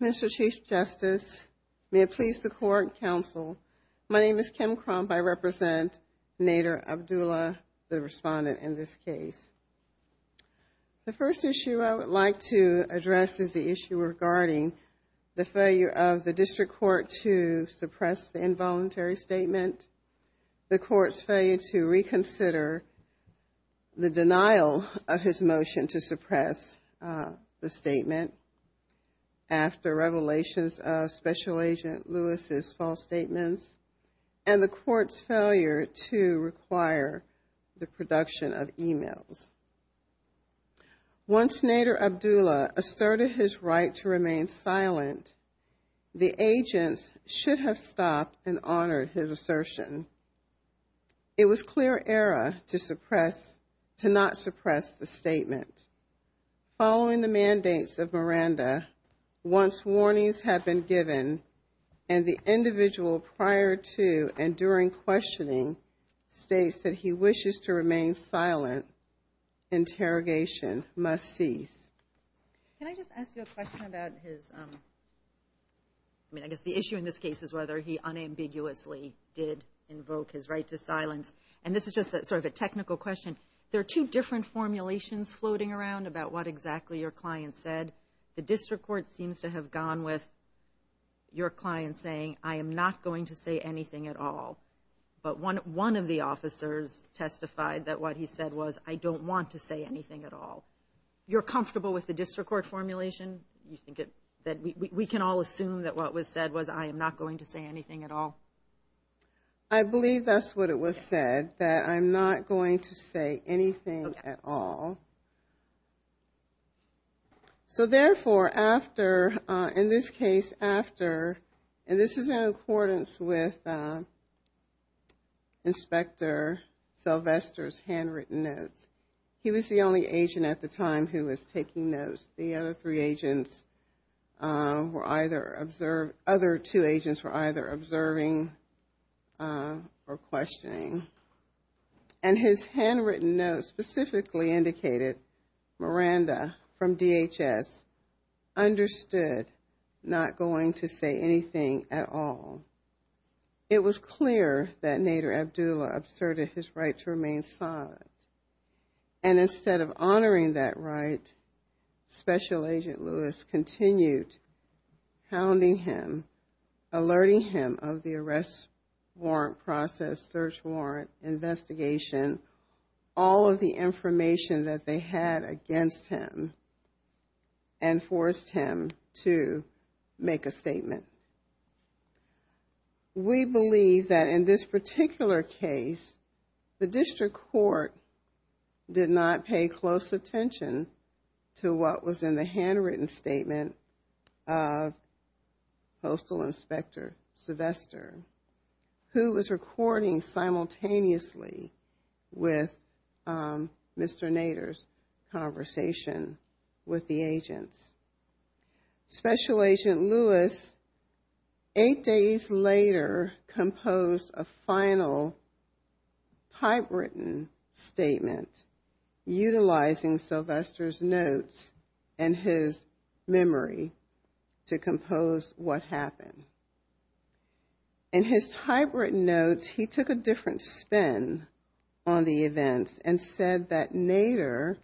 Mr. Chief Justice, may it please the court and counsel, my name is Kim Crump. I represent Nader Abdallah, the respondent in this case. The first issue I would like to address is the issue regarding the failure of the district court to suppress the involuntary statement, the court's failure to reconsider the denial of his motion to suppress the statement after revelations of Special Agent Lewis's false statements, and the court's failure to require the production of emails. Once Nader Abdallah asserted his right to remain silent, the agents should have stopped and honored his assertion. It was clear error to suppress, to not suppress the statement. Following the mandates of Miranda, once warnings have been given and the individual prior to and during questioning states that he wishes to remain silent, interrogation must cease. Can I just ask you a question about his, I mean I guess the issue in this case is whether he unambiguously did invoke his right to silence. And this is just sort of a technical question. There are two different formulations floating around about what exactly your client said. The district court seems to have gone with your client saying, I am not going to say anything at all. But one of the officers testified that what he said was, I don't want to say anything at all. You're comfortable with the district court formulation? You think that we can all assume that what was said was I am not going to say anything at all? I believe that's what it was said, that I'm not going to say anything at all. So therefore after, in this case after, and this is in accordance with Inspector Sylvester's handwritten notes. He was the only agent at the time who was taking notes. The other three agents were either observed, other two agents were either observing or questioning. And his handwritten notes specifically indicated Miranda from DHS understood not going to say anything at all. It was clear that Nader Abdullah absurded his right to remain silent. And instead of honoring that right, Special Agent Lewis continued hounding him, alerting him of the arrest warrant process, search warrant, investigation, all of the information that they had against him and forced him to make a statement. We believe that in this particular case, the district court did not pay close attention to what was in the handwritten statement of Postal Inspector Sylvester, who was recording simultaneously with Mr. Nader's conversation with the agents. Special Agent Lewis eight days later composed a final typewritten statement utilizing Sylvester's notes and his memory to compose what happened. In his typewritten notes, he took a different spin on the events and said that Nader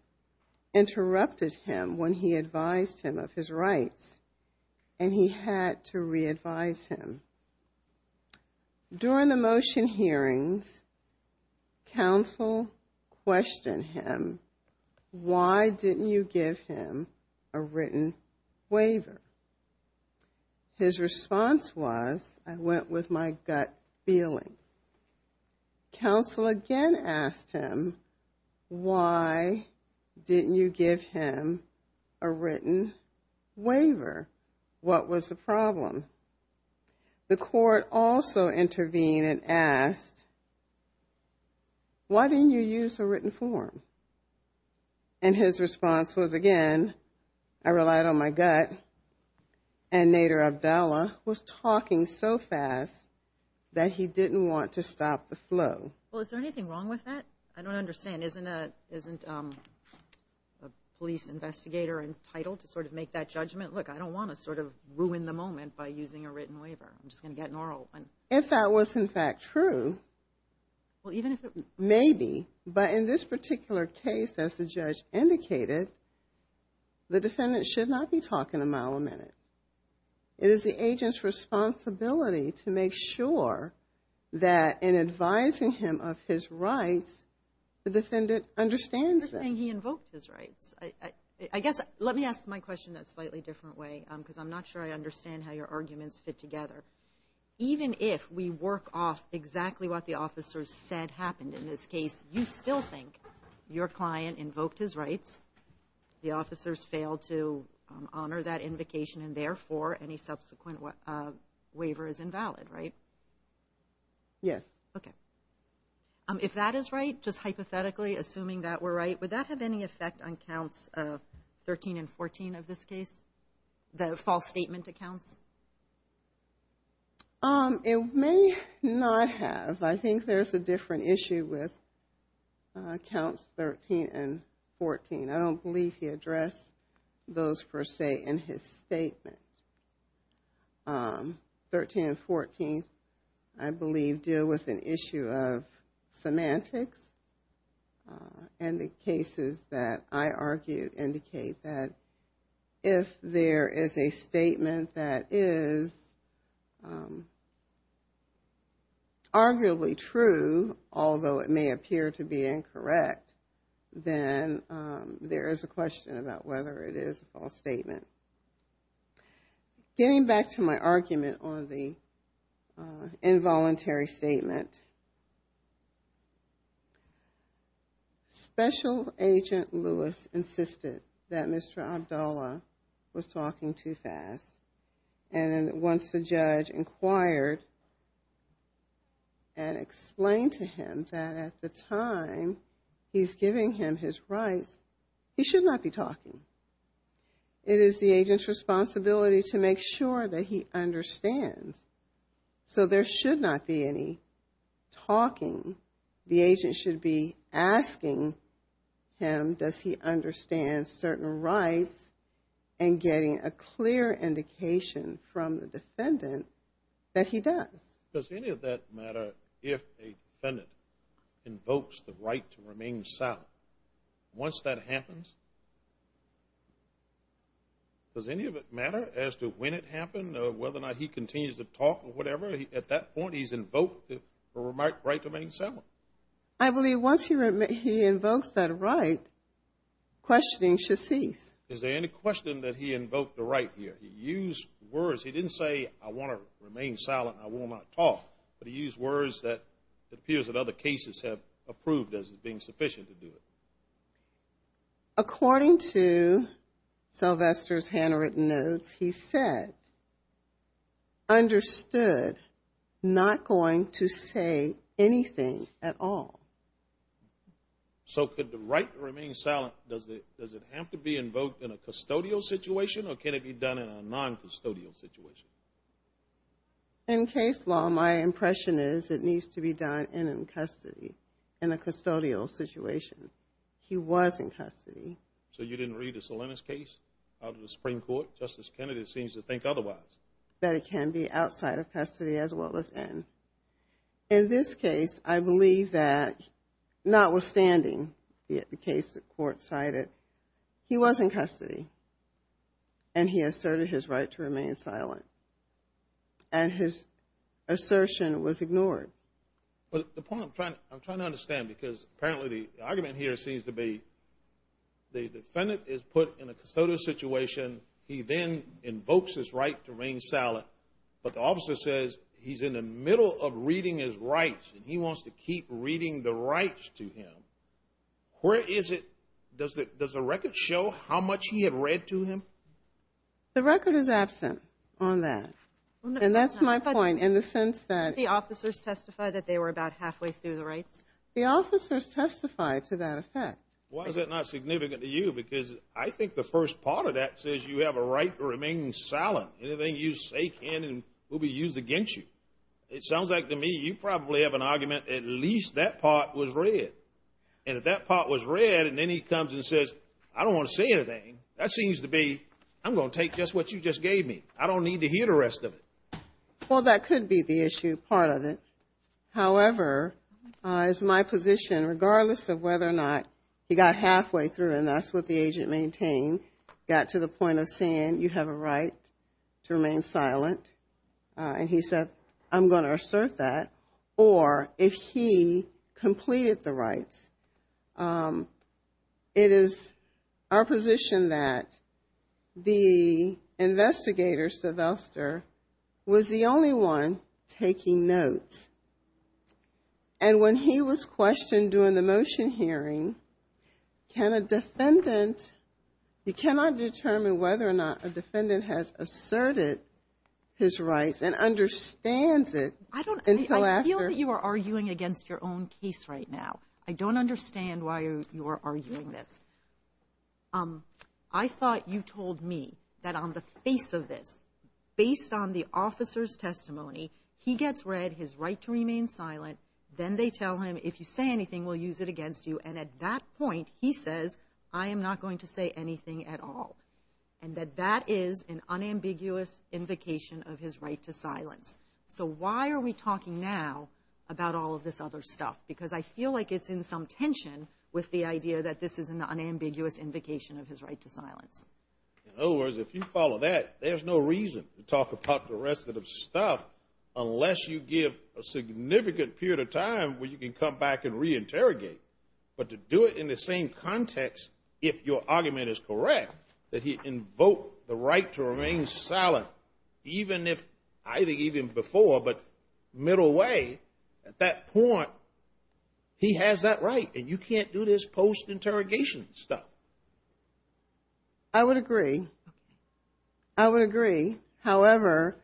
interrupted him when he advised him of his rights and he had to re-advise him. During the motion hearings, counsel questioned him, why didn't you give him a written waiver? His response was, I went with my gut feeling. Counsel again asked him, why didn't you give him a written waiver? What was the problem? The court also intervened and asked, why didn't you use a written form? And his response was again, I relied on my gut. And Nader Abdallah was talking so fast that he didn't want to stop the flow. Well, is there anything wrong with that? I don't understand. Isn't a police investigator entitled to sort of make that judgment? Look, I don't want to sort of ruin the moment by using a written waiver. I'm just going to get an oral. If that was in fact true, maybe, but in this particular case, as the judge indicated, the defendant should not be talking a mile a minute. It is the agent's responsibility to make sure that in advising him of his rights, the defendant understands that. You're saying he invoked his rights. I guess, let me ask my question in a slightly different way because I'm not sure I understand how your arguments fit together. Even if we work off exactly what the officer said happened in this case, you still think your client invoked his waiver is invalid, right? Yes. Okay. If that is right, just hypothetically, assuming that we're right, would that have any effect on counts 13 and 14 of this case, the false statement accounts? It may not have. I think there's a different issue with counts 13 and 14. I don't believe he addressed those per se in his statement. 13 and 14, I believe, deal with an issue of semantics and the cases that I argued indicate that if there is a statement that is arguably true, although it may appear to be incorrect, then there is a question about whether it is a false statement. Getting back to my argument on the involuntary statement, Special Agent Lewis insisted that Mr. Abdullah was talking too fast. And once the judge inquired and explained to him that at the time he's giving him his rights, he should not be talking. It is the agent's responsibility to make sure that he understands. So there should not be any talking. The agent should be asking him, does he understand certain rights, and getting a clear indication from the defendant that he does. Does any of that matter if a defendant invokes the right to remain silent? Once that happens, does any of it matter as to when it happened, whether or not he continues to talk or whatever? At that point, he's invoked the right to remain silent. I believe once he invokes that right, questioning should cease. Is there any question that he invoked the right here? He used words. He didn't say, I want to remain silent, I will not talk. But he used words that it appears that other cases have approved as being sufficient to do it. According to Sylvester's handwritten notes, he said, understood not going to say anything at all. So could the right to remain silent, does it have to be invoked in a custodial situation, or can it be done in a non-custodial situation? In case law, my impression is it needs to be done in custody, in a custodial situation. He was in custody. So you didn't read the Salinas case out of the Supreme Court? Justice Kennedy seems to think otherwise. That it can be outside of custody as well as in. In this case, I believe that notwithstanding the case the court cited, he was in custody, and he asserted his right to remain silent. And his assertion was ignored. But the point I'm trying to understand, because apparently the argument here seems to be the defendant is put in a custodial situation, he then invokes his right to remain silent, but the officer says he's in the middle of reading his rights, and he wants to keep reading the record. Does the record show how much he had read to him? The record is absent on that, and that's my point in the sense that the officers testified that they were about halfway through the rights. The officers testified to that effect. Why is that not significant to you? Because I think the first part of that says you have a right to remain silent. Anything you say can and will be used against you. It sounds like to me you probably have an argument at least that part was read, and if that part was read, and then he comes and says, I don't want to say anything, that seems to be, I'm going to take just what you just gave me. I don't need to hear the rest of it. Well, that could be the issue part of it. However, as my position, regardless of whether or not he got halfway through, and that's what the agent maintained, got to the point of saying you have a right to remain silent, and he said, I'm going to assert that, or if he completed the rights, it is our position that the investigator, Sylvester, was the only one taking notes, and when he was questioned during the motion hearing, can a defendant, you cannot determine whether or not a defendant has asserted his rights and understands it until after. I feel that you are arguing against your own case right now. I don't understand why you are arguing this. I thought you told me that on the face of this, based on the officer's testimony, he gets read his right to remain silent, then they tell him, if you say anything, we'll use it against you, and at that point, he says, I am not going to say anything at all, and that that is an unambiguous invocation of his right to silence. So why are we talking now about all of this other stuff? Because I feel like it's in some tension with the idea that this is an unambiguous invocation of his right to silence. In other words, if you follow that, there's no reason to talk about the interrogate, but to do it in the same context, if your argument is correct, that he invoked the right to remain silent, even if, I think even before, but middle way, at that point, he has that right, and you can't do this post-interrogation stuff. I would agree. I would agree. However,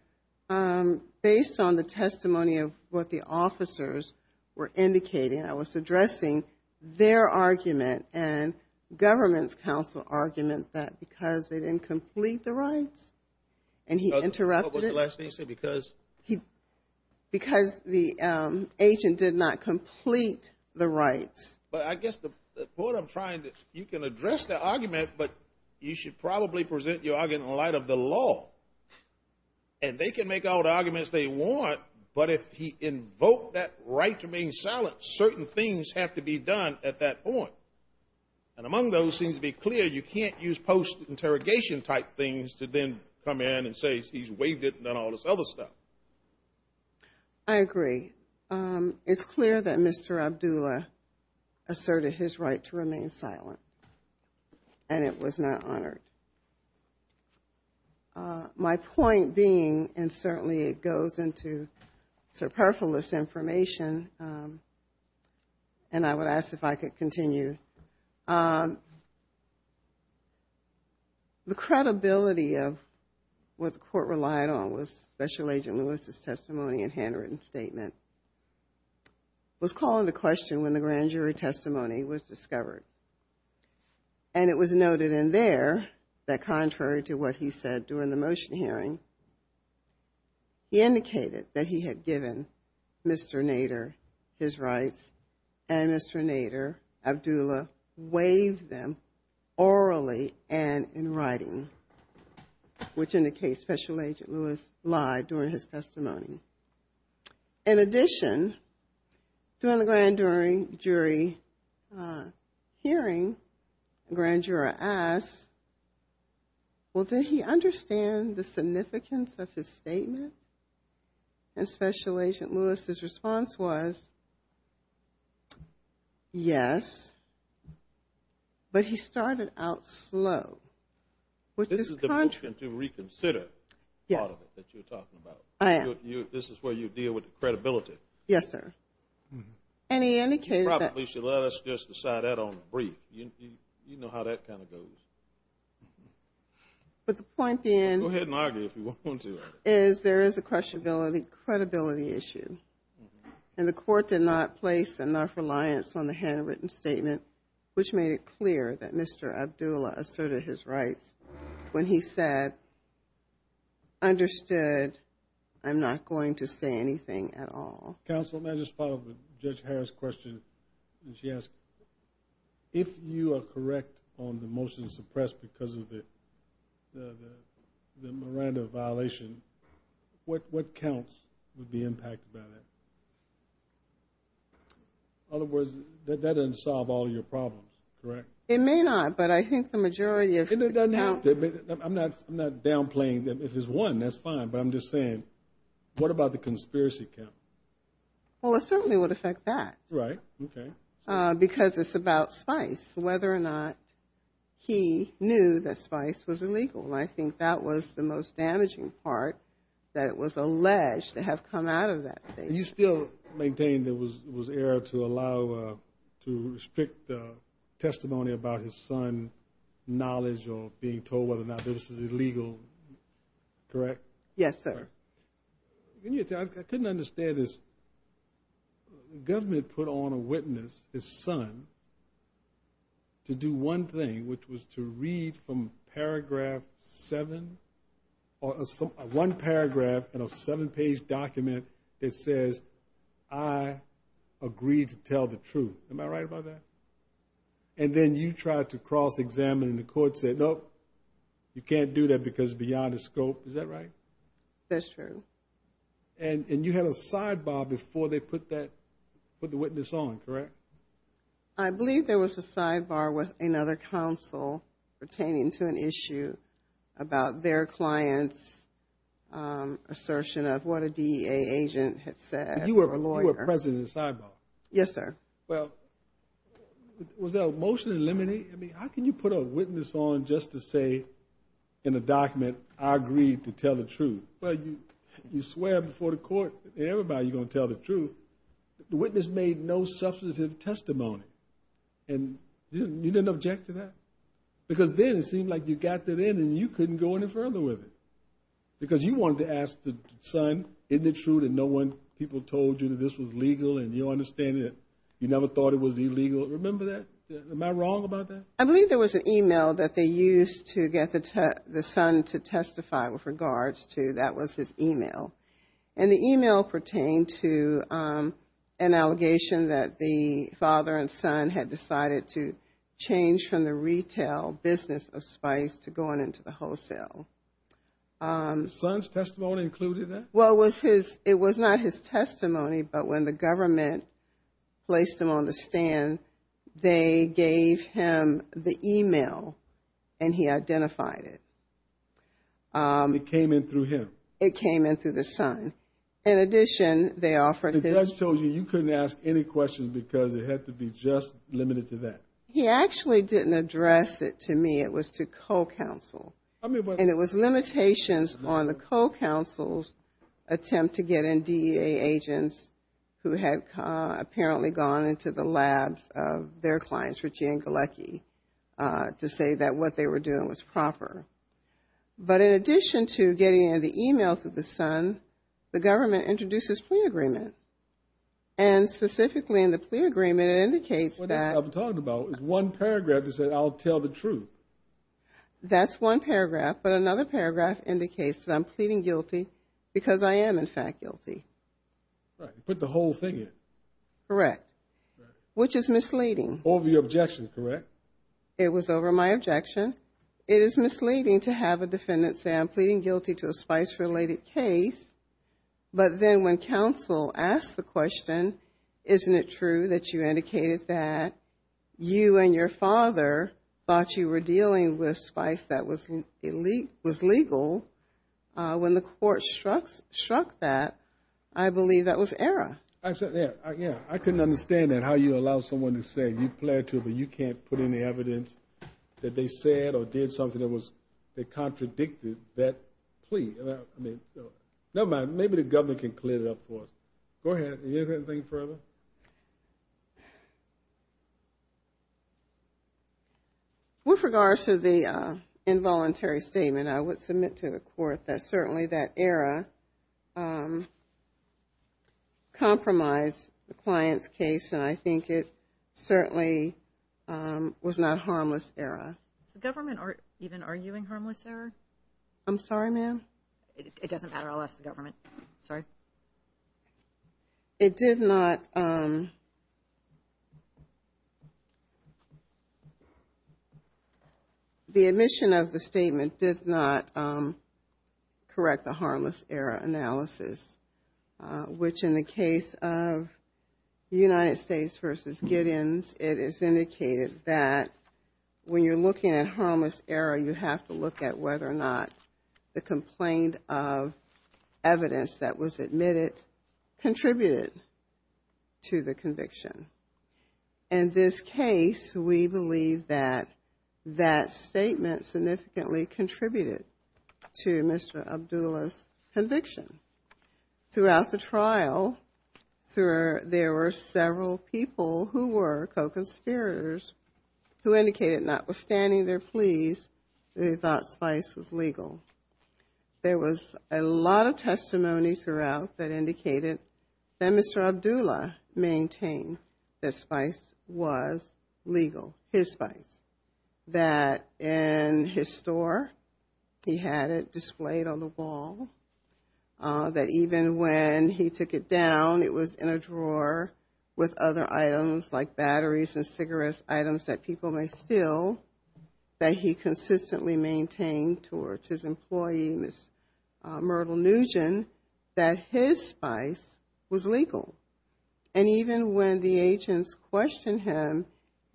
based on the testimony of what the officers were indicating, I was addressing their argument and government's counsel argument that because they didn't complete the rights, and he interrupted it, because the agent did not complete the rights. But I guess the point I'm trying to, you can address the argument, but you should probably present your argument in and they can make all the arguments they want, but if he invoked that right to remain silent, certain things have to be done at that point. And among those seems to be clear, you can't use post-interrogation type things to then come in and say he's waived it and done all this other stuff. I agree. It's clear that Mr. Abdullah asserted his right to remain silent, and it was not honored. My point being, and certainly it goes into superfluous information, and I would ask if I could continue, the credibility of what the court relied on was Special Agent Lewis' testimony and handwritten statement was called into question when the grand jury testimony was discovered. And it was noted in there that contrary to what he said during the motion hearing, he indicated that he had given Mr. Nader his rights and Mr. Nader, Abdullah, waived them orally and in writing, which indicates Special Agent Lewis lied during his testimony. In addition, during the grand jury hearing, the grand juror asked, well, did he understand the significance of his statement? And Special Agent Lewis' response was yes, but he started out slow. This is the motion to reconsider part of it that you're talking about. This is where you deal with credibility. Yes, sir. And he indicated that. You probably should let us just decide that on a brief. You know how that kind of goes. But the point being. Go ahead and argue if you want to. Is there is a credibility issue, and the court did not place enough reliance on the handwritten statement, which made it clear that Mr. Abdullah asserted his rights when he said, I understood. I'm not going to say anything at all. Counsel, may I just follow up with Judge Harris' question? And she asked, if you are correct on the motion suppressed because of the Miranda violation, what counts would be impacted by that? In other words, that doesn't solve all your problems, correct? It may not, but I think the majority of. I'm not I'm not downplaying that if it's one, that's fine. But I'm just saying, what about the conspiracy count? Well, it certainly would affect that, right? OK, because it's about spice, whether or not he knew that spice was illegal. And I think that was the most damaging part that it was alleged to have come out of that. You still maintain there was there to allow to restrict the testimony about his son knowledge or being told whether or not this is illegal, correct? Yes, sir. I couldn't understand this. Government put on a witness, his son. To do one thing, which was to read from paragraph seven or one paragraph and a seven page document that says I agreed to tell the truth. Am I right about that? And then you tried to cross examine and the court said, nope, you can't do that because beyond the scope, is that right? That's true. And you had a sidebar before they put that put the witness on, correct? I believe there was a sidebar with another counsel pertaining to an issue about their client's assertion of what a D.A. agent had said. You were a lawyer president sidebar. Yes, sir. Well, was there a motion to eliminate? I mean, how can you put a witness on just to say in a document, I agreed to tell the truth? Well, you swear before the court, everybody's going to tell the truth. The witness made no substantive testimony and you didn't object to that? Because then it seemed like you got that in and you couldn't go any further with it. Because you wanted to ask the son, isn't it true that no one people told you that this was legal and you understand that you never thought it was illegal? Remember that? Am I wrong about that? I believe there was an email that they used to get the son to testify with regards to, that was his email. And the email pertained to an allegation that the father and son had decided to change from the retail business of Spice to going into the wholesale. Son's testimony included that? Well, it was not his testimony, but when the government placed him on the stand, they gave him the email and he identified it. It came in through him? It came in through the son. In addition, they offered him... The judge told you you couldn't ask any questions because it had to be just limited to that? He actually didn't address it to me. It was to co-counsel. And it was limitations on the co-counsel's attempt to get in DEA agents who had apparently gone into the labs of their clients, Richie and Galecki, to say that what they were doing was proper. But in addition to getting in the email through the son, the government introduces plea agreement. And specifically in the plea agreement, it indicates that... What I'm talking about is one paragraph that said, I'll tell the truth. That's one paragraph. But another paragraph indicates that I'm pleading guilty because I am, in fact, guilty. Right. Put the whole thing in. Correct. Which is misleading. Over your objection, correct? It was over my objection. It is misleading to have a defendant say, I'm pleading guilty to a spice-related case. But then when counsel asked the question, isn't it true that you indicated that you and your father thought you were dealing with spice that was legal? When the court struck that, I believe that was error. I said that, yeah. I couldn't understand that, how you allow someone to say, you pled to but you can't put any evidence that they said or did something that was... They contradicted that plea. Never mind. Maybe the government can clear it up for us. Go ahead. Do you have anything further? With regards to the involuntary statement, I would submit to the court that certainly that error compromised the client's case. And I think it certainly was not a harmless error. Is the government even arguing harmless error? I'm sorry, ma'am? It doesn't matter unless the government. Sorry. It did not... The admission of the statement did not correct the harmless error analysis, which in the case of United States versus Giddens, it is indicated that when you're looking at harmless error, you have to look at whether or not the complaint of evidence that was admitted contributed to the conviction. In this case, we believe that that statement significantly contributed to Mr. Abdullah's conviction. Throughout the trial, there were several people who were co-conspirators who indicated notwithstanding their pleas, they thought Spice was legal. There was a lot of testimony throughout that indicated that Mr. Abdullah maintained that Spice was legal, his Spice. That in his store, he had it displayed on the wall. That even when he took it down, it was in a drawer with other items like batteries and employee, Ms. Myrtle Nugent, that his Spice was legal. And even when the agents questioned him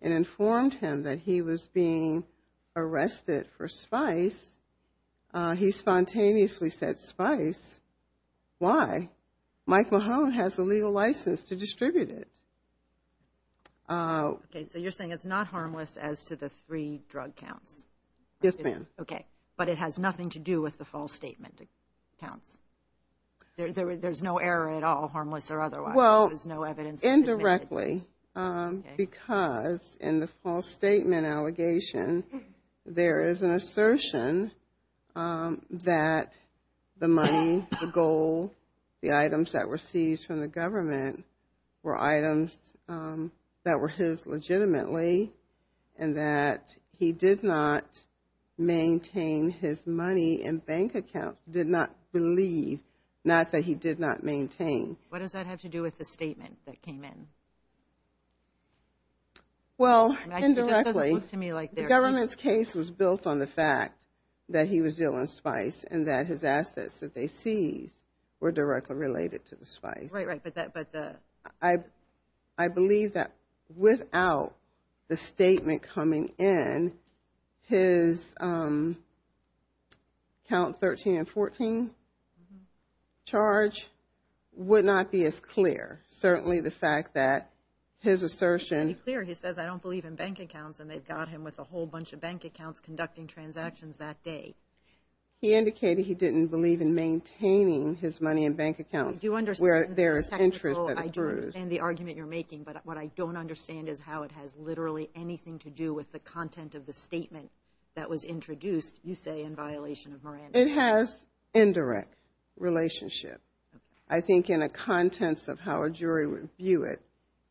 and informed him that he was being arrested for Spice, he spontaneously said, Spice, why? Mike Mahone has a legal license to distribute it. Okay, so you're saying it's not harmless as to the three drug counts? Yes, ma'am. Okay, but it has nothing to do with the false statement accounts? There's no error at all, harmless or otherwise? Well, indirectly, because in the false statement allegation, there is an assertion that the money, the goal, the items that were seized from the government were items that were his legitimately and that he did not maintain his money and bank accounts, did not believe, not that he did not maintain. What does that have to do with the statement that came in? Well, indirectly, the government's case was built on the fact that he was dealing Spice and that his assets that they seized were directly related to the Spice. Right, right, but the... I believe that without the statement coming in, his count 13 and 14 charge would not be as clear. Certainly, the fact that his assertion... It should be clear. He says, I don't believe in bank accounts. And they've got him with a whole bunch of bank accounts conducting transactions that day. He indicated he didn't believe in maintaining his money and bank accounts. Where there is interest that occurs. I do understand the argument you're making, but what I don't understand is how it has literally anything to do with the content of the statement that was introduced, you say, in violation of Moran. It has indirect relationship. I think in the contents of how a jury would view it,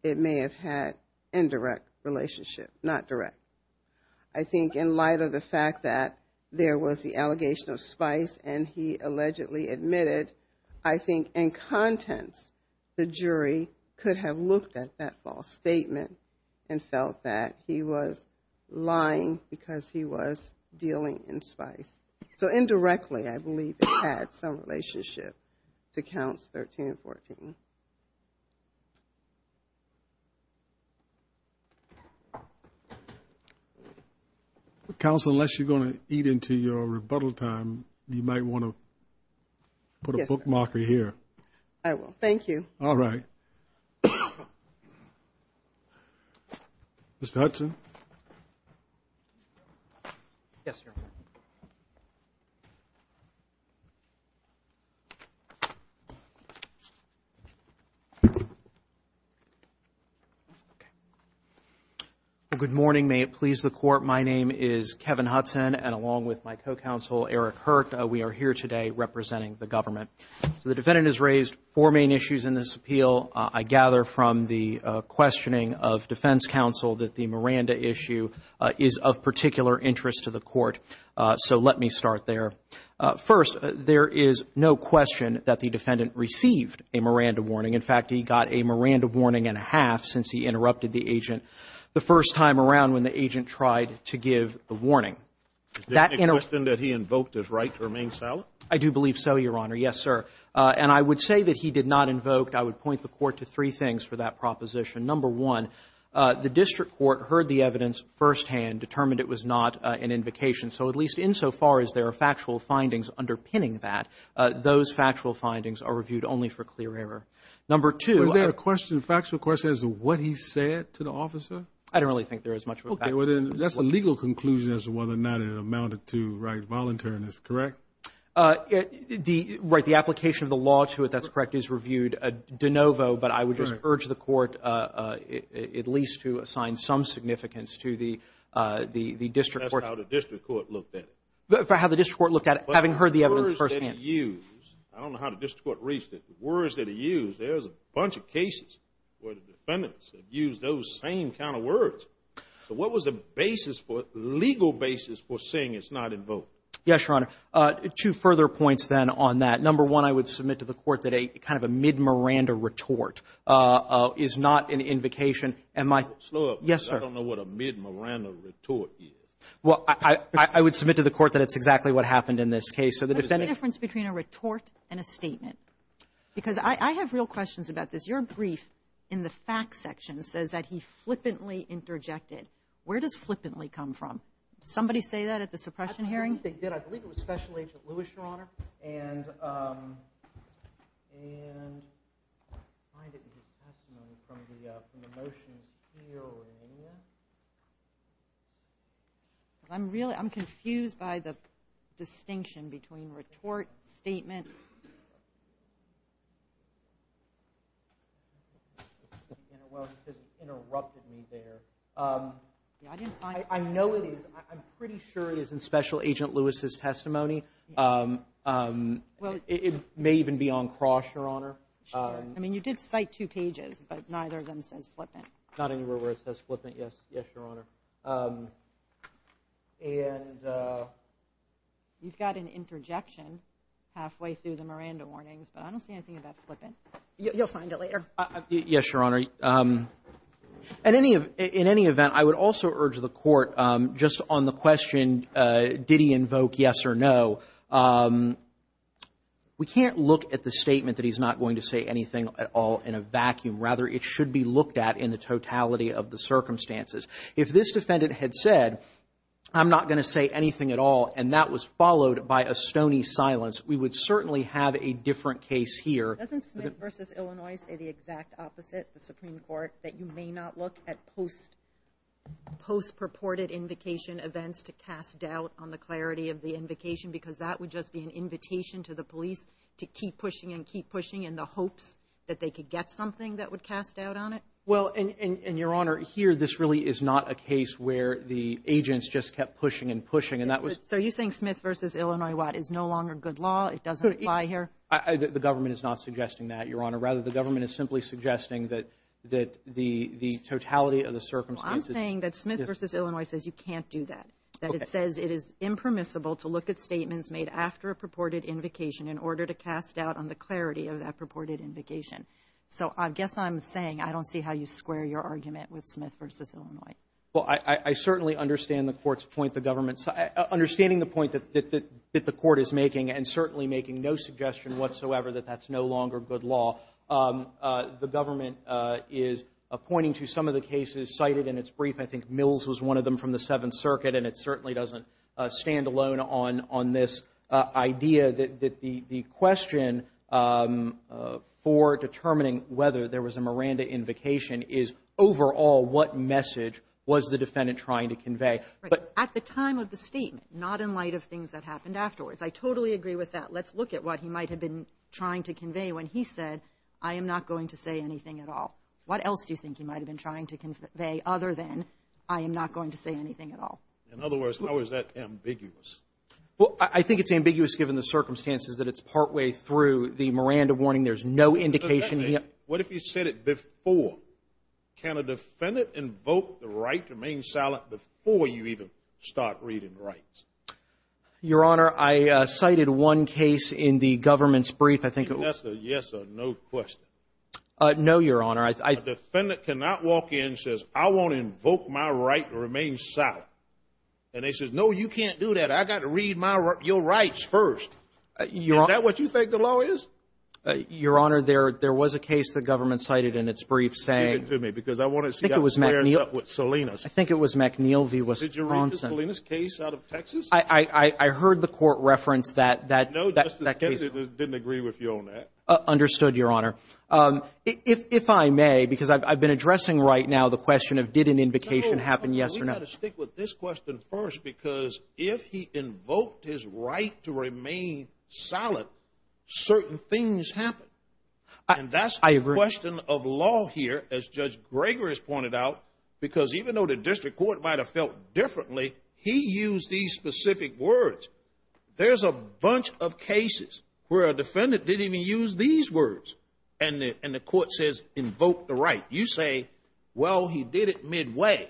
it may have had indirect relationship, not direct. And he allegedly admitted, I think, in contents, the jury could have looked at that false statement and felt that he was lying because he was dealing in Spice. So indirectly, I believe it had some relationship to counts 13 and 14. Thank you. Counsel, unless you're going to eat into your rebuttal time, you might want to put a bookmarker here. I will. Thank you. All right. Mr. Hudson. Yes, sir. Okay. Good morning. May it please the court. My name is Kevin Hudson, and along with my co-counsel, Eric Hurt, we are here today representing the government. So the defendant has raised four main issues in this appeal. I gather from the questioning of defense counsel that the Miranda issue is of particular interest to the court. So let me start there. First, there is no question that the defendant received a Miranda warning. In fact, he got a Miranda warning and a half since he interrupted the agent the first time around when the agent tried to give the warning. Is there any question that he invoked his right to remain silent? I do believe so, Your Honor. Yes, sir. And I would say that he did not invoke. I would point the court to three things for that proposition. Number one, the district court heard the evidence firsthand, determined it was not an invocation. So at least insofar as there are factual findings underpinning that, those factual findings are reviewed only for clear error. Number two. Was there a question, factual question, as to what he said to the officer? I don't really think there is much of a fact. Okay. Well, then that's a legal conclusion as to whether or not it amounted to right voluntariness, correct? Right. The application of the law to it, that's correct, is reviewed de novo, but I would just urge the court at least to assign some significance to the district court. That's how the district court looked at it. That's how the district court looked at it, having heard the evidence firsthand. But the words that he used, I don't know how the district court reached it, but the words that he used, there's a bunch of cases where the defendants have used those same kind of words. So what was the basis for, the legal basis for saying it's not invoked? Yes, Your Honor. Two further points then on that. Number one, I would submit to the court that a kind of a mid-Miranda retort is not an invocation. Am I... Slow up. Yes, sir. I don't know what a mid-Miranda retort is. Well, I would submit to the court that it's exactly what happened in this case. So the defendant... What's the difference between a retort and a statement? Because I have real questions about this. Your brief in the fact section says that he flippantly interjected. Where does flippantly come from? Somebody say that at the suppression hearing? I believe it was Special Agent Lewis, Your Honor. And I find it in his testimony from the motions here or in here. I'm really, I'm confused by the distinction between retort, statement. You know, well, he just interrupted me there. I know it is. I'm pretty sure it is in Special Agent Lewis's testimony. It may even be on cross, Your Honor. Sure. I mean, you did cite two pages, but neither of them says flippant. Not anywhere where it says flippant. Yes. Yes, Your Honor. And you've got an interjection halfway through the Miranda warnings, but I don't see anything about flippant. You'll find it later. Yes, Your Honor. In any event, I would also urge the court just on the question, did he invoke yes or no? We can't look at the statement that he's not going to say anything at all in a vacuum. Rather, it should be looked at in the totality of the circumstances. If this defendant had said, I'm not going to say anything at all, and that was followed by a stony silence, we would certainly have a different case here. Doesn't Smith v. Illinois say the exact opposite, the Supreme Court, that you may not look at post-purported invocation events to cast doubt on the clarity of the police to keep pushing and keep pushing in the hopes that they could get something that would cast doubt on it? Well, and Your Honor, here, this really is not a case where the agents just kept pushing and pushing, and that was... So you're saying Smith v. Illinois, what, is no longer good law? It doesn't apply here? The government is not suggesting that, Your Honor. Rather, the government is simply suggesting that the totality of the circumstances... Well, I'm saying that Smith v. Illinois says you can't do that, that it says it is impermissible to look at statements made after a purported invocation in order to cast doubt on the clarity of that purported invocation. So I guess I'm saying I don't see how you square your argument with Smith v. Illinois. Well, I certainly understand the court's point, the government's... Understanding the point that the court is making, and certainly making no suggestion whatsoever that that's no longer good law, the government is pointing to some of the doesn't stand alone on this idea that the question for determining whether there was a Miranda invocation is, overall, what message was the defendant trying to convey? Right. At the time of the statement, not in light of things that happened afterwards. I totally agree with that. Let's look at what he might have been trying to convey when he said, I am not going to say anything at all. What else do you think he might have been trying to convey other than, I am not going to say anything at all? In other words, how is that ambiguous? Well, I think it's ambiguous given the circumstances that it's partway through the Miranda warning. There's no indication he... What if he said it before? Can a defendant invoke the right to remain silent before you even start reading rights? Your Honor, I cited one case in the government's brief. I think it was... Yes or no question? No, Your Honor. A defendant cannot walk in and says, I want to invoke my right to remain silent. And they said, no, you can't do that. I got to read your rights first. Is that what you think the law is? Your Honor, there was a case the government cited in its brief saying... Give it to me, because I want to see... I think it was McNeil v. Wisconsin. I think it was McNeil v. Wisconsin. Did you read the Salinas case out of Texas? I heard the court reference that case. No, the defendant didn't agree with you on that. Understood, Your Honor. If I may, because I've been addressing right now the question of, did an invocation happen, yes or no? I've got to stick with this question first, because if he invoked his right to remain silent, certain things happen. And that's the question of law here, as Judge Gregory has pointed out, because even though the district court might have felt differently, he used these specific words. There's a bunch of cases where a defendant didn't even use these words. And the court says, invoke the right. You say, well, he did it midway.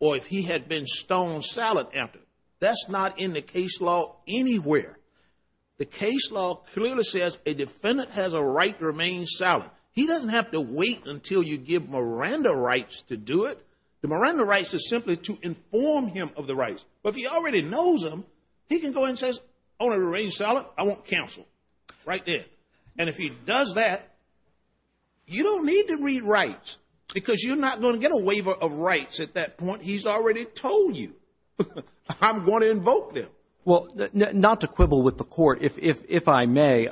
Or if he had been stoned silent after. That's not in the case law anywhere. The case law clearly says a defendant has a right to remain silent. He doesn't have to wait until you give Miranda rights to do it. The Miranda rights is simply to inform him of the rights. But if he already knows them, he can go and says, I want to remain silent. I want counsel, right there. And if he does that, you don't need to read rights, because you're not going to get a waiver of rights at that point. He's already told you. I'm going to invoke them. Well, not to quibble with the court. If I may,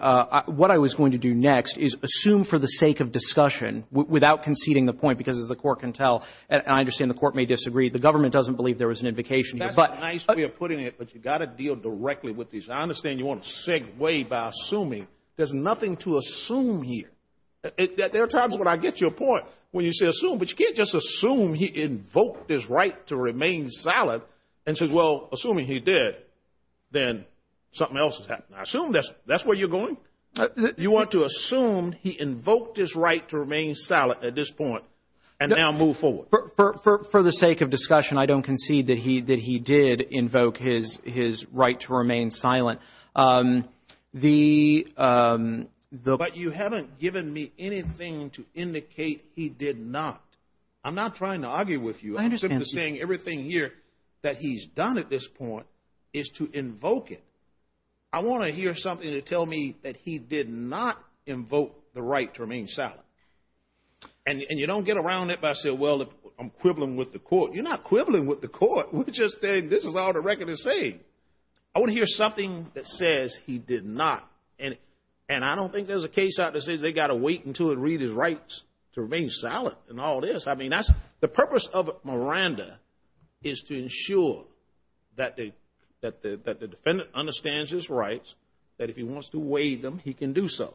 what I was going to do next is assume for the sake of discussion without conceding the point, because as the court can tell, and I understand the court may disagree, the government doesn't believe there was an invocation here. That's a nice way of putting it. But you've got to deal directly with these. I understand you want to segue by assuming. There's nothing to assume here. There are times when I get to a point when you say assume, but you can't just assume he invoked his right to remain silent and says, well, assuming he did, then something else has happened. I assume that's where you're going. You want to assume he invoked his right to remain silent at this point and now move forward. For the sake of discussion, I don't concede that he did invoke his right to remain silent. But you haven't given me anything to indicate he did not. I'm not trying to argue with you. I'm simply saying everything here that he's done at this point is to invoke it. I want to hear something to tell me that he did not invoke the right to remain silent. And you don't get around it by saying, well, I'm quibbling with the court. You're not quibbling with the court. We're just saying this is all the record is saying. I want to hear something that says he did not. And I don't think there's a case out there that says they got to wait until it reads his rights to remain silent and all this. The purpose of Miranda is to ensure that the defendant understands his rights, that if he wants to waive them, he can do so.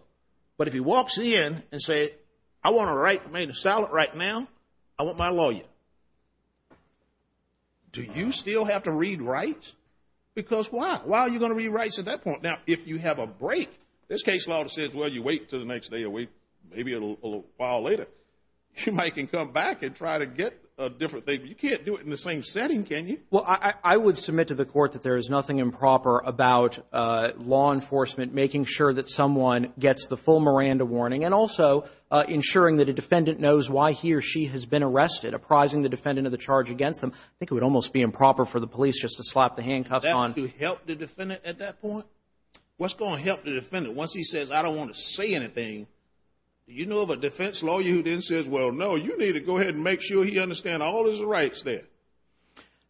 But if he walks in and says, I want to remain silent right now, I want my lawyer. Do you still have to read rights? Because why? Why are you going to read rights at that point? Now, if you have a break, this case law says, well, you wait till the next day or week, maybe a little while later, you might can come back and try to get a different thing. You can't do it in the same setting, can you? Well, I would submit to the court that there is nothing improper about law enforcement making sure that someone gets the full Miranda warning and also ensuring that a defendant knows why he or she has been arrested, apprising the defendant of the charge against them. I think it would almost be improper for the police just to slap the handcuffs on the defendant at that point. What's going to help the defendant once he says, I don't want to say anything? You know of a defense law, you then says, well, no, you need to go ahead and make sure he understands all his rights there.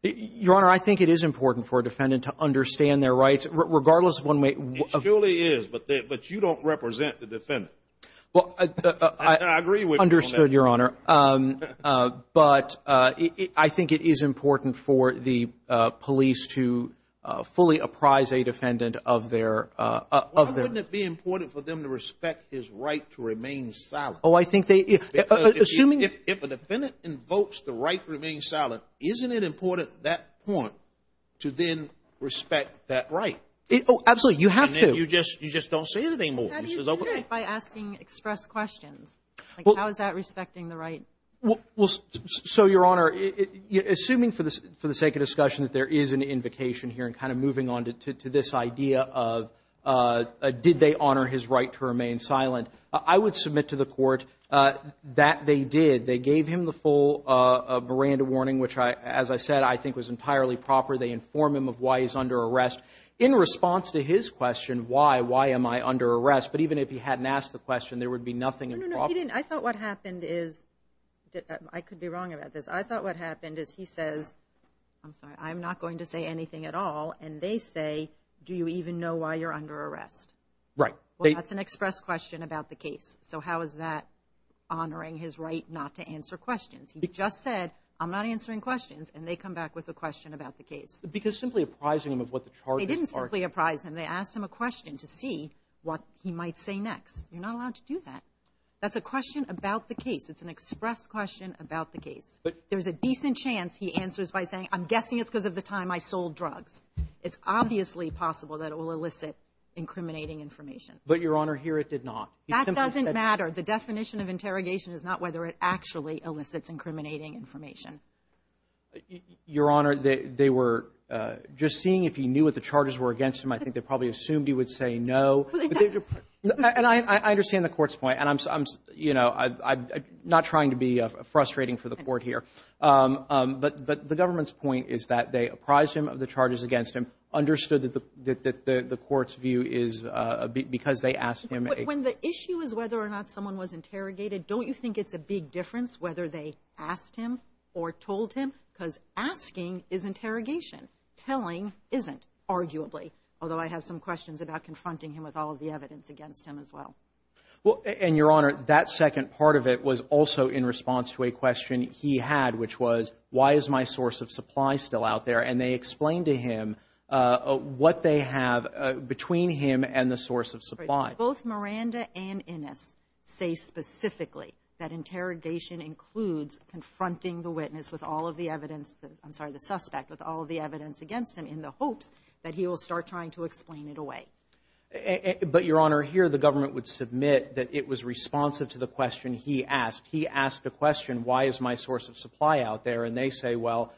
Your Honor, I think it is important for a defendant to understand their rights, regardless of one way. It surely is, but you don't represent the defendant. I agree with you on that. Understood, Your Honor. But I think it is important for the police to fully apprise a defendant of their... Why wouldn't it be important for them to respect his right to remain silent? Oh, I think they... Because if a defendant invokes the right to remain silent, isn't it important at that point to then respect that right? Absolutely, you have to. And then you just don't say anything more. How do you do that by asking express questions? How is that respecting the right? Well, so Your Honor, assuming for the sake of discussion that there is an invocation here and kind of moving on to this idea of did they honor his right to remain silent? I would submit to the court that they did. They gave him the full Miranda warning, which as I said, I think was entirely proper. They inform him of why he's under arrest. In response to his question, why, why am I under arrest? But even if he hadn't asked the question, there would be nothing... I thought what happened is... I could be wrong about this. I thought what happened is he says, I'm sorry, I'm not going to say anything at all. And they say, do you even know why you're under arrest? Right. That's an express question about the case. So how is that honoring his right not to answer questions? He just said, I'm not answering questions. And they come back with a question about the case. Because simply apprising him of what the charges are... They didn't simply apprise him. They asked him a question to see what he might say next. You're not allowed to do that. That's a question about the case. It's an express question about the case. There's a decent chance he answers by saying, I'm guessing it's because of the time I sold drugs. It's obviously possible that it will elicit incriminating information. But Your Honor, here it did not. That doesn't matter. The definition of interrogation is not whether it actually elicits incriminating information. Your Honor, they were just seeing if he knew what the charges were against him. I think they probably assumed he would say no. And I understand the court's point. And I'm not trying to be frustrating for the court here. But the government's point is that they apprised him of the charges against him, understood that the court's view is because they asked him a... When the issue is whether or not someone was interrogated, don't you think it's a big difference whether they asked him or told him? Because asking is interrogation. Telling isn't, arguably. Although I have some questions about confronting him with all of the evidence against him as well. Well, and Your Honor, that second part of it was also in response to a question he had, which was, why is my source of supply still out there? And they explained to him what they have between him and the source of supply. Both Miranda and Innes say specifically that interrogation includes confronting the witness with all of the evidence, I'm sorry, the suspect with all of the evidence against him in the hopes that he will start trying to explain it away. But Your Honor, here the government would submit that it was responsive to the question he asked. He asked the question, why is my source of supply out there? And they say, well,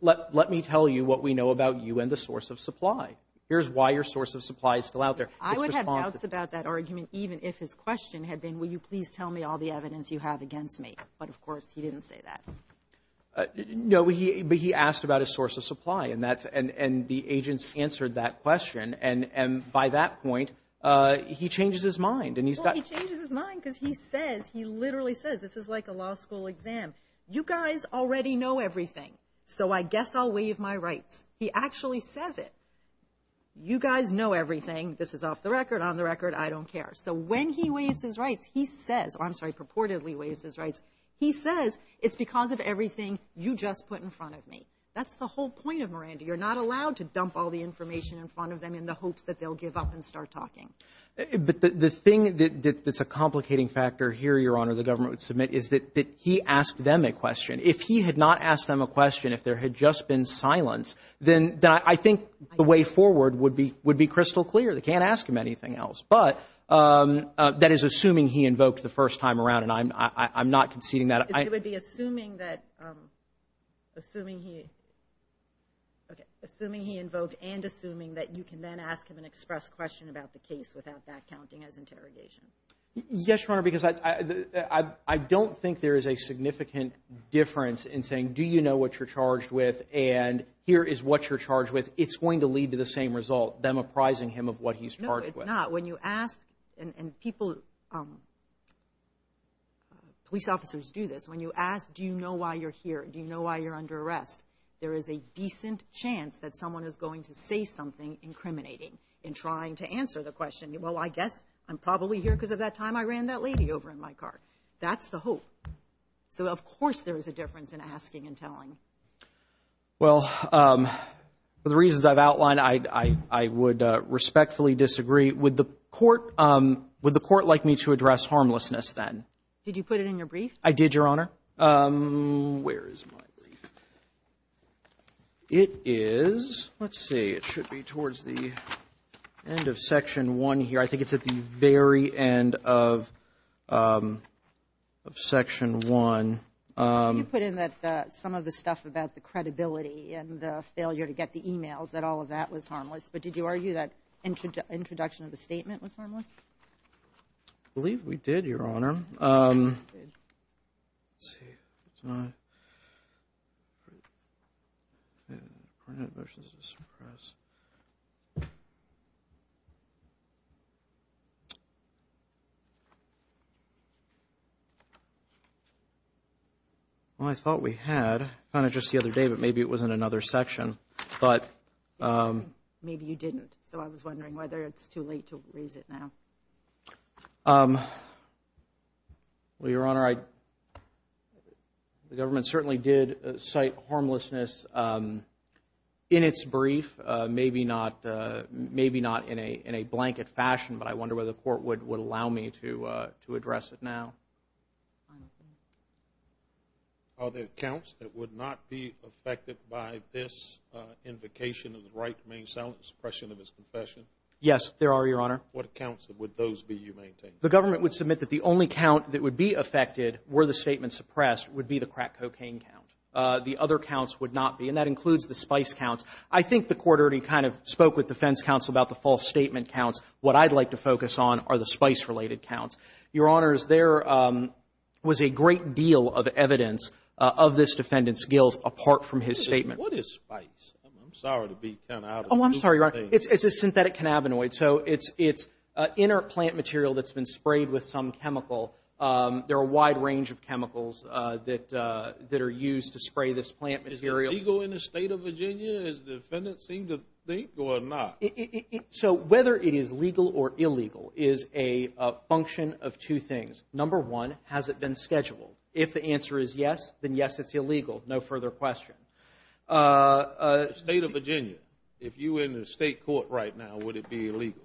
let me tell you what we know about you and the source of supply. Here's why your source of supply is still out there. I would have doubts about that argument, even if his question had been, will you please tell me all the evidence you have against me? But of course, he didn't say that. No, but he asked about his source of supply. And the agents answered that question. And by that point, he changes his mind. Well, he changes his mind because he says, he literally says, this is like a law school exam. You guys already know everything. So I guess I'll waive my rights. He actually says it. You guys know everything. This is off the record, on the record, I don't care. So when he waives his rights, he says, I'm sorry, purportedly waives his rights. He says, it's because of everything you just put in front of me. That's the whole point of Miranda. You're not allowed to dump all the information in front of them in the hopes that they'll give up and start talking. But the thing that's a complicating factor here, Your Honor, the government would submit, is that he asked them a question. If he had not asked them a question, if there had just been silence, then I think the way forward would be crystal clear. They can't ask him anything else. But that is assuming he invoked the first time around. And I'm not conceding that. It would be assuming that, assuming he invoked and assuming that you can then ask him an express question about the case without that counting as interrogation. Yes, Your Honor, because I don't think there is a significant difference in saying, do you know what you're charged with? And here is what you're charged with. It's going to lead to the same result, them apprising him of what he's charged with. No, it's not. And people, police officers do this. When you ask, do you know why you're here? Do you know why you're under arrest? There is a decent chance that someone is going to say something incriminating in trying to answer the question. Well, I guess I'm probably here because of that time I ran that lady over in my car. That's the hope. So, of course, there is a difference in asking and telling. Well, for the reasons I've outlined, I would respectfully disagree. Would the court like me to address harmlessness then? Did you put it in your brief? I did, Your Honor. Where is my brief? It is, let's see, it should be towards the end of Section 1 here. I think it's at the very end of Section 1. You put in that some of the stuff about the credibility and the failure to get the emails, that all of that was harmless. But did you argue that introduction of the statement was harmless? I believe we did, Your Honor. Well, I thought we had kind of just the other day, but maybe it was in another section. But maybe you didn't. So I was wondering whether it's too late to raise it now. Well, Your Honor, the government certainly did cite harmlessness in its brief, maybe not in a blanket fashion. But I wonder whether the court would allow me to address it now. Are there counts that would not be affected by this invocation of the right to main silence, suppression of his confession? Yes, there are, Your Honor. What counts would those be you maintain? The government would submit that the only count that would be affected were the statement suppressed would be the crack cocaine count. The other counts would not be, and that includes the spice counts. I think the court already kind of spoke with defense counsel about the false statement counts. What I'd like to focus on are the spice-related counts. Your Honors, there was a great deal of evidence of this defendant's skills apart from his statement. What is spice? I'm sorry to be kind of out of the loop here. Oh, I'm sorry, Your Honor. It's a synthetic cannabinoid. So it's inner plant material that's been sprayed with some chemical. There are a wide range of chemicals that are used to spray this plant material. Is it legal in the state of Virginia, as the defendant seemed to think, or not? So whether it is legal or illegal is a function of two things. Number one, has it been scheduled? If the answer is yes, then yes, it's illegal. No further question. State of Virginia, if you were in the state court right now, would it be illegal?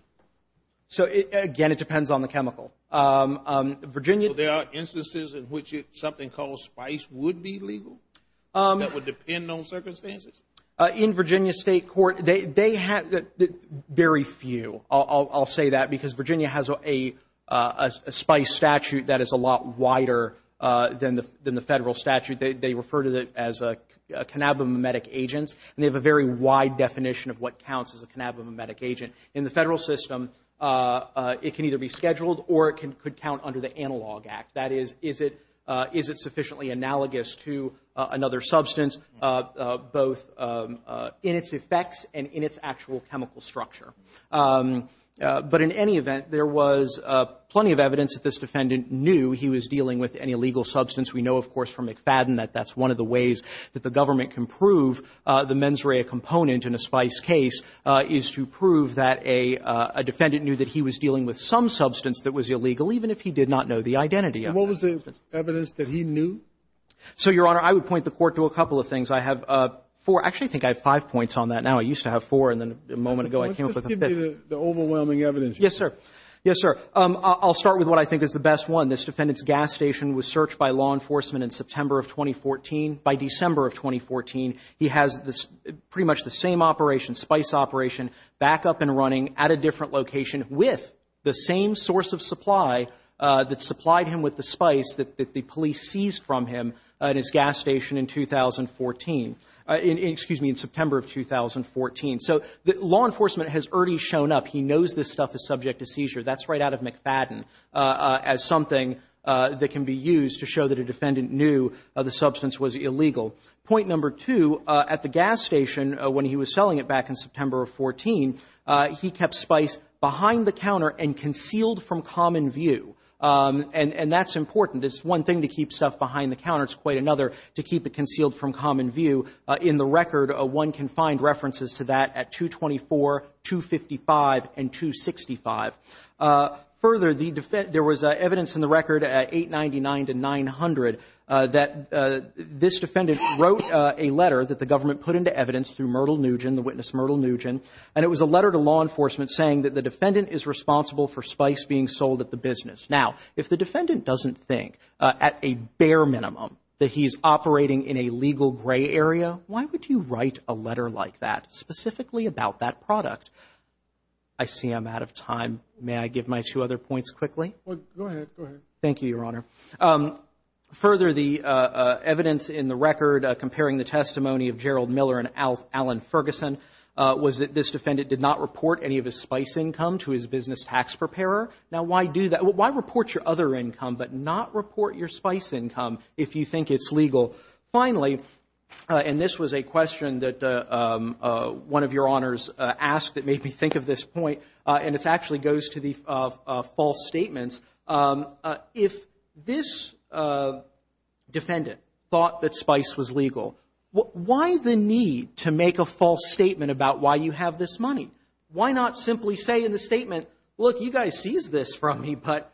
So again, it depends on the chemical. Virginia... There are instances in which something called spice would be legal? That would depend on circumstances? In Virginia state court, they have very few. I'll say that because Virginia has a spice statute that is a lot wider than the federal statute. They refer to it as cannabimimetic agents, and they have a very wide definition of what counts as a cannabimimetic agent. In the federal system, it can either be scheduled or it could count under the Analog Act. That is, is it sufficiently analogous to another substance, both in its effects and in its actual chemical structure? But in any event, there was plenty of evidence that this defendant knew he was dealing with an illegal substance. We know, of course, from McFadden that that's one of the ways that the government can prove the mens rea component in a spice case is to prove that a defendant knew that he was dealing with a cannabimimetic agent. And what was the evidence that he knew? So, Your Honor, I would point the court to a couple of things. I have four. Actually, I think I have five points on that now. I used to have four, and then a moment ago, I came up with a fifth. Just give me the overwhelming evidence. Yes, sir. Yes, sir. I'll start with what I think is the best one. This defendant's gas station was searched by law enforcement in September of 2014. By December of 2014, he has pretty much the same operation, spice operation, back up and spice that the police seized from him at his gas station in 2014, excuse me, in September of 2014. So law enforcement has already shown up. He knows this stuff is subject to seizure. That's right out of McFadden as something that can be used to show that a defendant knew the substance was illegal. Point number two, at the gas station when he was selling it back in September of 14, he kept spice behind the counter and concealed from common view. And that's important. It's one thing to keep stuff behind the counter. It's quite another to keep it concealed from common view. In the record, one can find references to that at 224, 255, and 265. Further, there was evidence in the record at 899 to 900 that this defendant wrote a letter that the government put into evidence through Myrtle Nugent, the witness Myrtle Nugent, and it was a letter to law enforcement saying that the defendant is responsible for spice being sold at the business. Now, if the defendant doesn't think at a bare minimum that he's operating in a legal gray area, why would you write a letter like that specifically about that product? I see I'm out of time. May I give my two other points quickly? Well, go ahead. Go ahead. Thank you, Your Honor. Further, the evidence in the record comparing the testimony of Gerald Miller and Alan Ferguson was that this defendant did not report any of his spice income to his business tax preparer. Now, why do that? Why report your other income but not report your spice income if you think it's legal? Finally, and this was a question that one of Your Honors asked that made me think of this point, and it actually goes to the false statements, if this defendant thought that you have this money, why not simply say in the statement, look, you guys seized this from me, but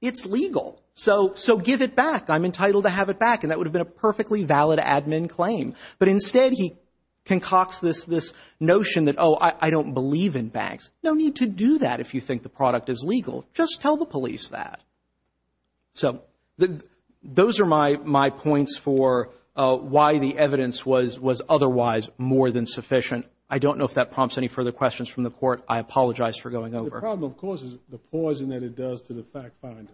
it's legal, so give it back. I'm entitled to have it back, and that would have been a perfectly valid admin claim. But instead, he concocts this notion that, oh, I don't believe in banks. No need to do that if you think the product is legal. Just tell the police that. So those are my points for why the evidence was otherwise more than sufficient. I don't know if that prompts any further questions from the Court. I apologize for going over. The problem, of course, is the poison that it does to the fact finder.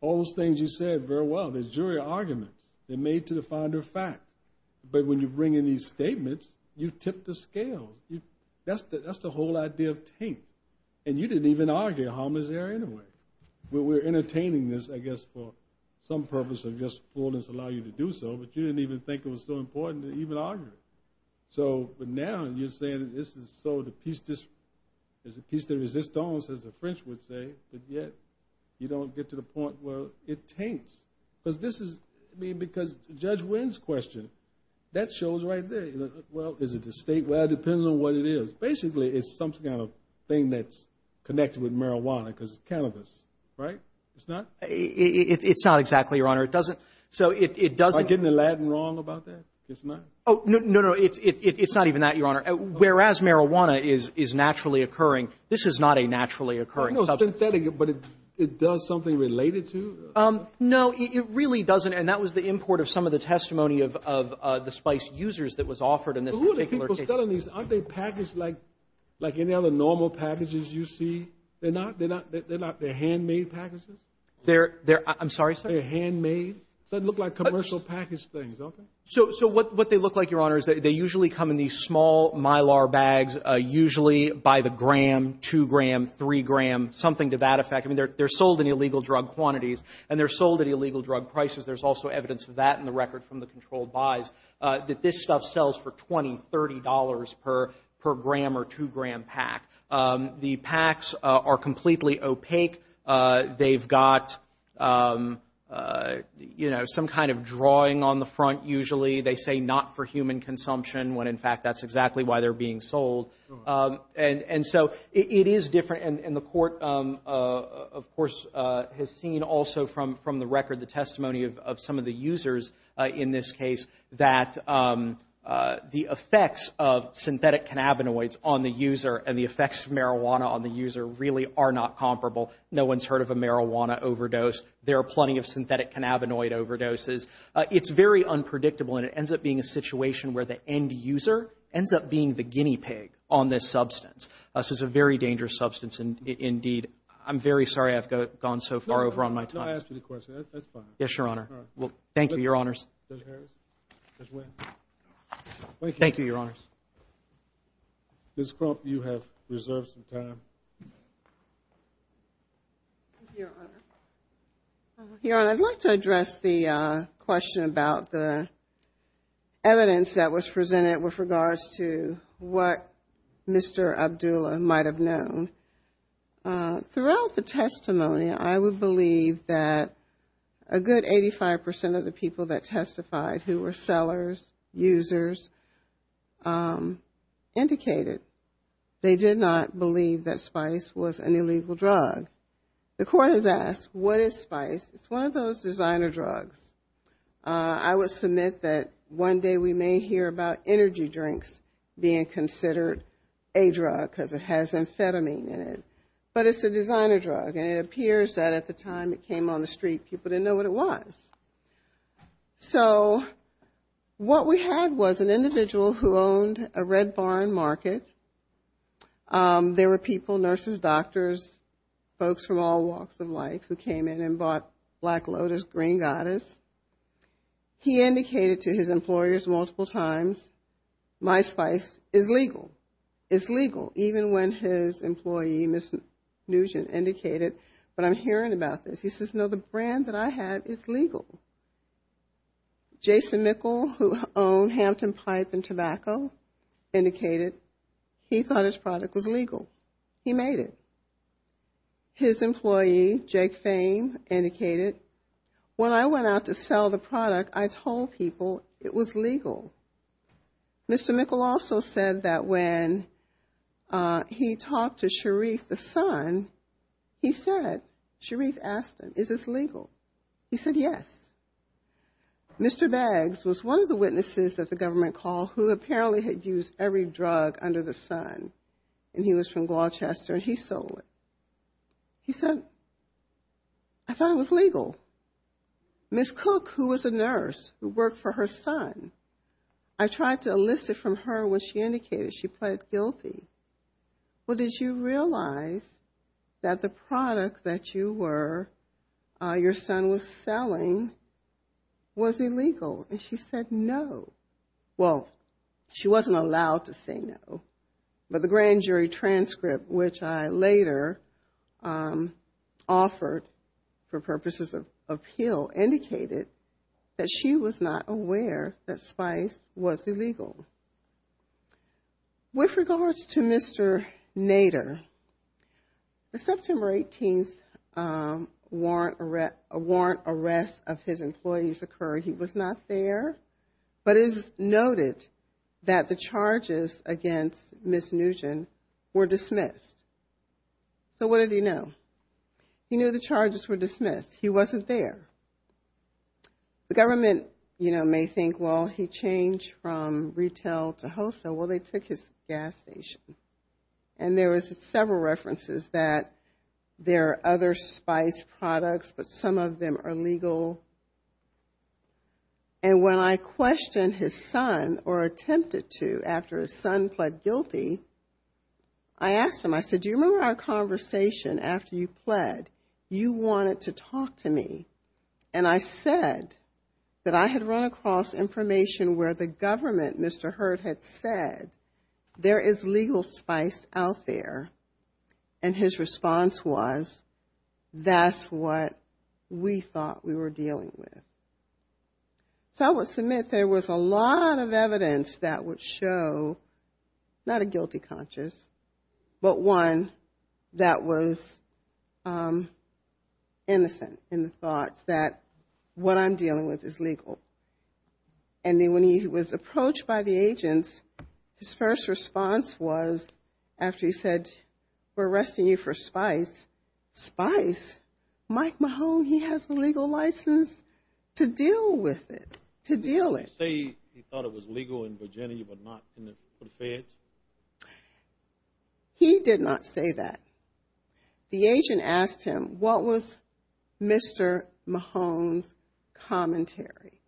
All those things you said very well. They're jury arguments. They're made to the founder of fact. But when you bring in these statements, you tip the scale. That's the whole idea of taint, and you didn't even argue a homicidal anyway. We're entertaining this, I guess, for some purpose of just fullness, allow you to do so, but you didn't even think it was so important to even argue it. So now you're saying this is so the piece de resistance, as the French would say, but yet you don't get to the point where it taints. Because this is, I mean, because Judge Wynn's question, that shows right there, you know, well, is it the state? Well, it depends on what it is. Basically, it's some kind of thing that's connected with marijuana because cannabis, right? It's not. It's not exactly your honor. It doesn't. So it doesn't get the Latin wrong about that. It's not. Oh, no, no, no. It's not even that your honor. Whereas marijuana is naturally occurring. This is not a naturally occurring synthetic, but it does something related to. No, it really doesn't. And that was the import of some of the testimony of the spice users that was offered. Who are the people selling these? Aren't they packaged like, like any other normal packages you see? They're not. They're not. They're not. They're handmade packages. They're there. I'm sorry, sir. They're handmade. Doesn't look like commercial package things. So what they look like, your honor, is that they usually come in these small mylar bags, usually by the gram, two gram, three gram, something to that effect. I mean, they're sold in illegal drug quantities and they're sold at illegal drug prices. There's also evidence of that in the record from the controlled buys that this stuff sells for $20, $30 per gram or two gram pack. The packs are completely opaque. They've got, you know, some kind of drawing on the front. Usually they say not for human consumption when, in fact, that's exactly why they're being sold. And so it is different. And the court, of course, has seen also from the record, the testimony of some of the users in this case, that the effects of synthetic cannabinoids on the user and the effects of marijuana on the user really are not comparable. No one's heard of a marijuana overdose. There are plenty of synthetic cannabinoid overdoses. It's very unpredictable and it ends up being a situation where the end user ends up being the guinea pig on this substance. This is a very dangerous substance. And indeed, I'm very sorry I've gone so far over on my time. No, I asked you the question. That's fine. Yes, your honor. Thank you, your honors. Thank you, your honors. Ms. Crump, you have reserved some time. Thank you, your honor. Your honor, I'd like to address the question about the evidence that was presented with regards to what Mr. Abdullah might have known. And throughout the testimony, I would believe that a good 85% of the people that testified who were sellers, users, indicated they did not believe that spice was an illegal drug. The court has asked, what is spice? It's one of those designer drugs. I would submit that one day we may hear about energy drinks being considered a drug because it has amphetamine in it. But it's a designer drug. And it appears that at the time it came on the street, people didn't know what it was. So what we had was an individual who owned a red barn market. There were people, nurses, doctors, folks from all walks of life who came in and bought Black Lotus, Green Goddess. He indicated to his employers multiple times, my spice is legal. It's legal. Even when his employee, Ms. Nugent, indicated, but I'm hearing about this. He says, no, the brand that I have is legal. Jason Mickle, who owned Hampton Pipe and Tobacco, indicated he thought his product was legal. He made it. His employee, Jake Fame, indicated, when I went out to sell the product, I told people it was legal. Mr. Mickle also said that when he talked to Sharif, the son, he said, Sharif asked him, is this legal? He said, yes. Mr. Baggs was one of the witnesses that the government called who apparently had used every drug under the sun. And he was from Gloucester. He said, I thought it was legal. Ms. Cook, who was a nurse who worked for her son, I tried to elicit from her what she indicated. She pled guilty. Well, did you realize that the product that you were, your son was selling, was illegal? And she said, no. Well, she wasn't allowed to say no. But the grand jury transcript, which I later offered for purposes of appeal, indicated that she was not aware that Spice was illegal. With regards to Mr. Nader, the September 18th warrant arrest of his employees occurred. He was not there, but it is noted that the charges against Ms. Nugent were dismissed. So what did he know? He knew the charges were dismissed. He wasn't there. The government, you know, may think, well, he changed from retail to wholesale. Well, they took his gas station. And there was several references that there are other Spice products, but some of them are legal. And when I questioned his son, or attempted to, after his son pled guilty, I asked him, I said, do you remember our conversation after you pled? You wanted to talk to me. And I said that I had run across information where the government, Mr. Hurd, had said, there is legal Spice out there. And his response was, that's what we thought we were dealing with. So I would submit there was a lot of evidence that would show, not a guilty conscious, but one that was innocent in the thoughts that what I'm dealing with is legal. And then when he was approached by the agents, his first response was, after he said, we're arresting you for Spice, Spice? Mike Mahone, he has a legal license to deal with it, to deal it. Did he say he thought it was legal in Virginia, but not for the feds? He did not say that. The agent asked him, what was Mr. Mahone's commentary?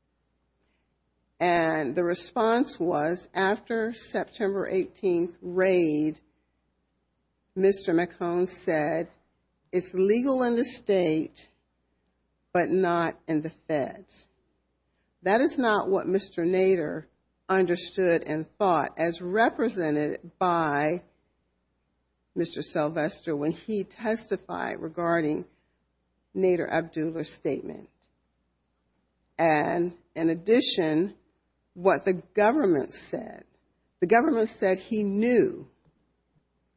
And the response was, after September 18th raid, Mr. Mahone said, it's legal in the state, but not in the feds. That is not what Mr. Nader understood and thought as represented by Mr. Sylvester when he testified regarding Nader Abdullah's statement. And in addition, what the government said, the government said he knew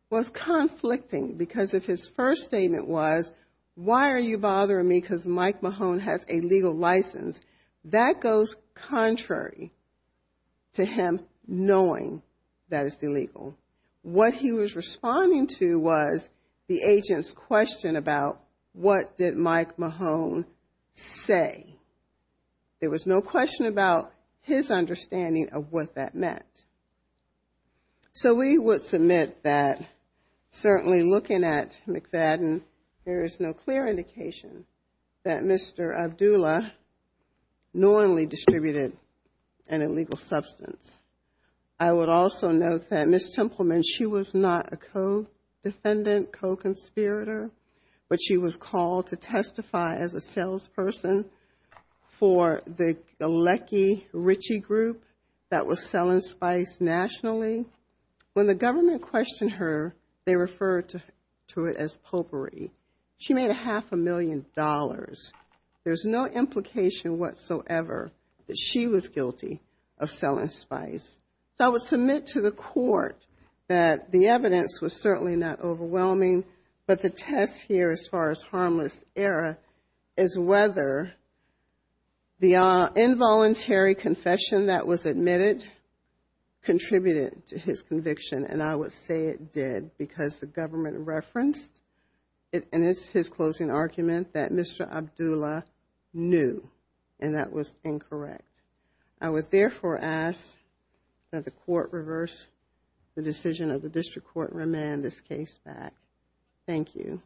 was conflicting because if his first statement was, why are you bothering me because Mike Mahone has a legal license? That goes contrary to him knowing that it's illegal. What he was responding to was the agent's question about what did Mike Mahone say? There was no question about his understanding of what that meant. So we would submit that certainly looking at McFadden, there is no clear indication that Mr. Abdullah knowingly distributed an illegal substance. I would also note that Ms. Templeman, she was not a co-defendant, co-conspirator, but she was called to testify as a salesperson for the Galecki-Ritchie group that was selling spice nationally. When the government questioned her, they referred to it as potpourri. She made a half a million dollars. There's no implication whatsoever that she was guilty of selling spice. So I would submit to the court that the evidence was certainly not overwhelming, but the test here as far as harmless error is whether the involuntary confession that was admitted contributed to his conviction, and I would say it did because the government referenced and it's his closing argument that Mr. Abdullah knew, and that was incorrect. I would therefore ask that the court reverse the decision of the district court and remand this case back. Thank you.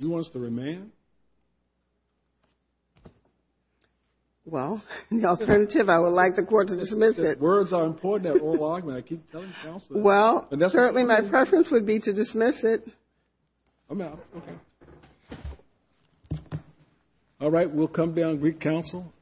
Do you want us to remand? Well, the alternative, I would like the court to dismiss it. Words are important at oral argument. I keep telling counsel. Well, certainly my preference would be to dismiss it. I'm out. Okay. All right. We'll come down to Greek counsel.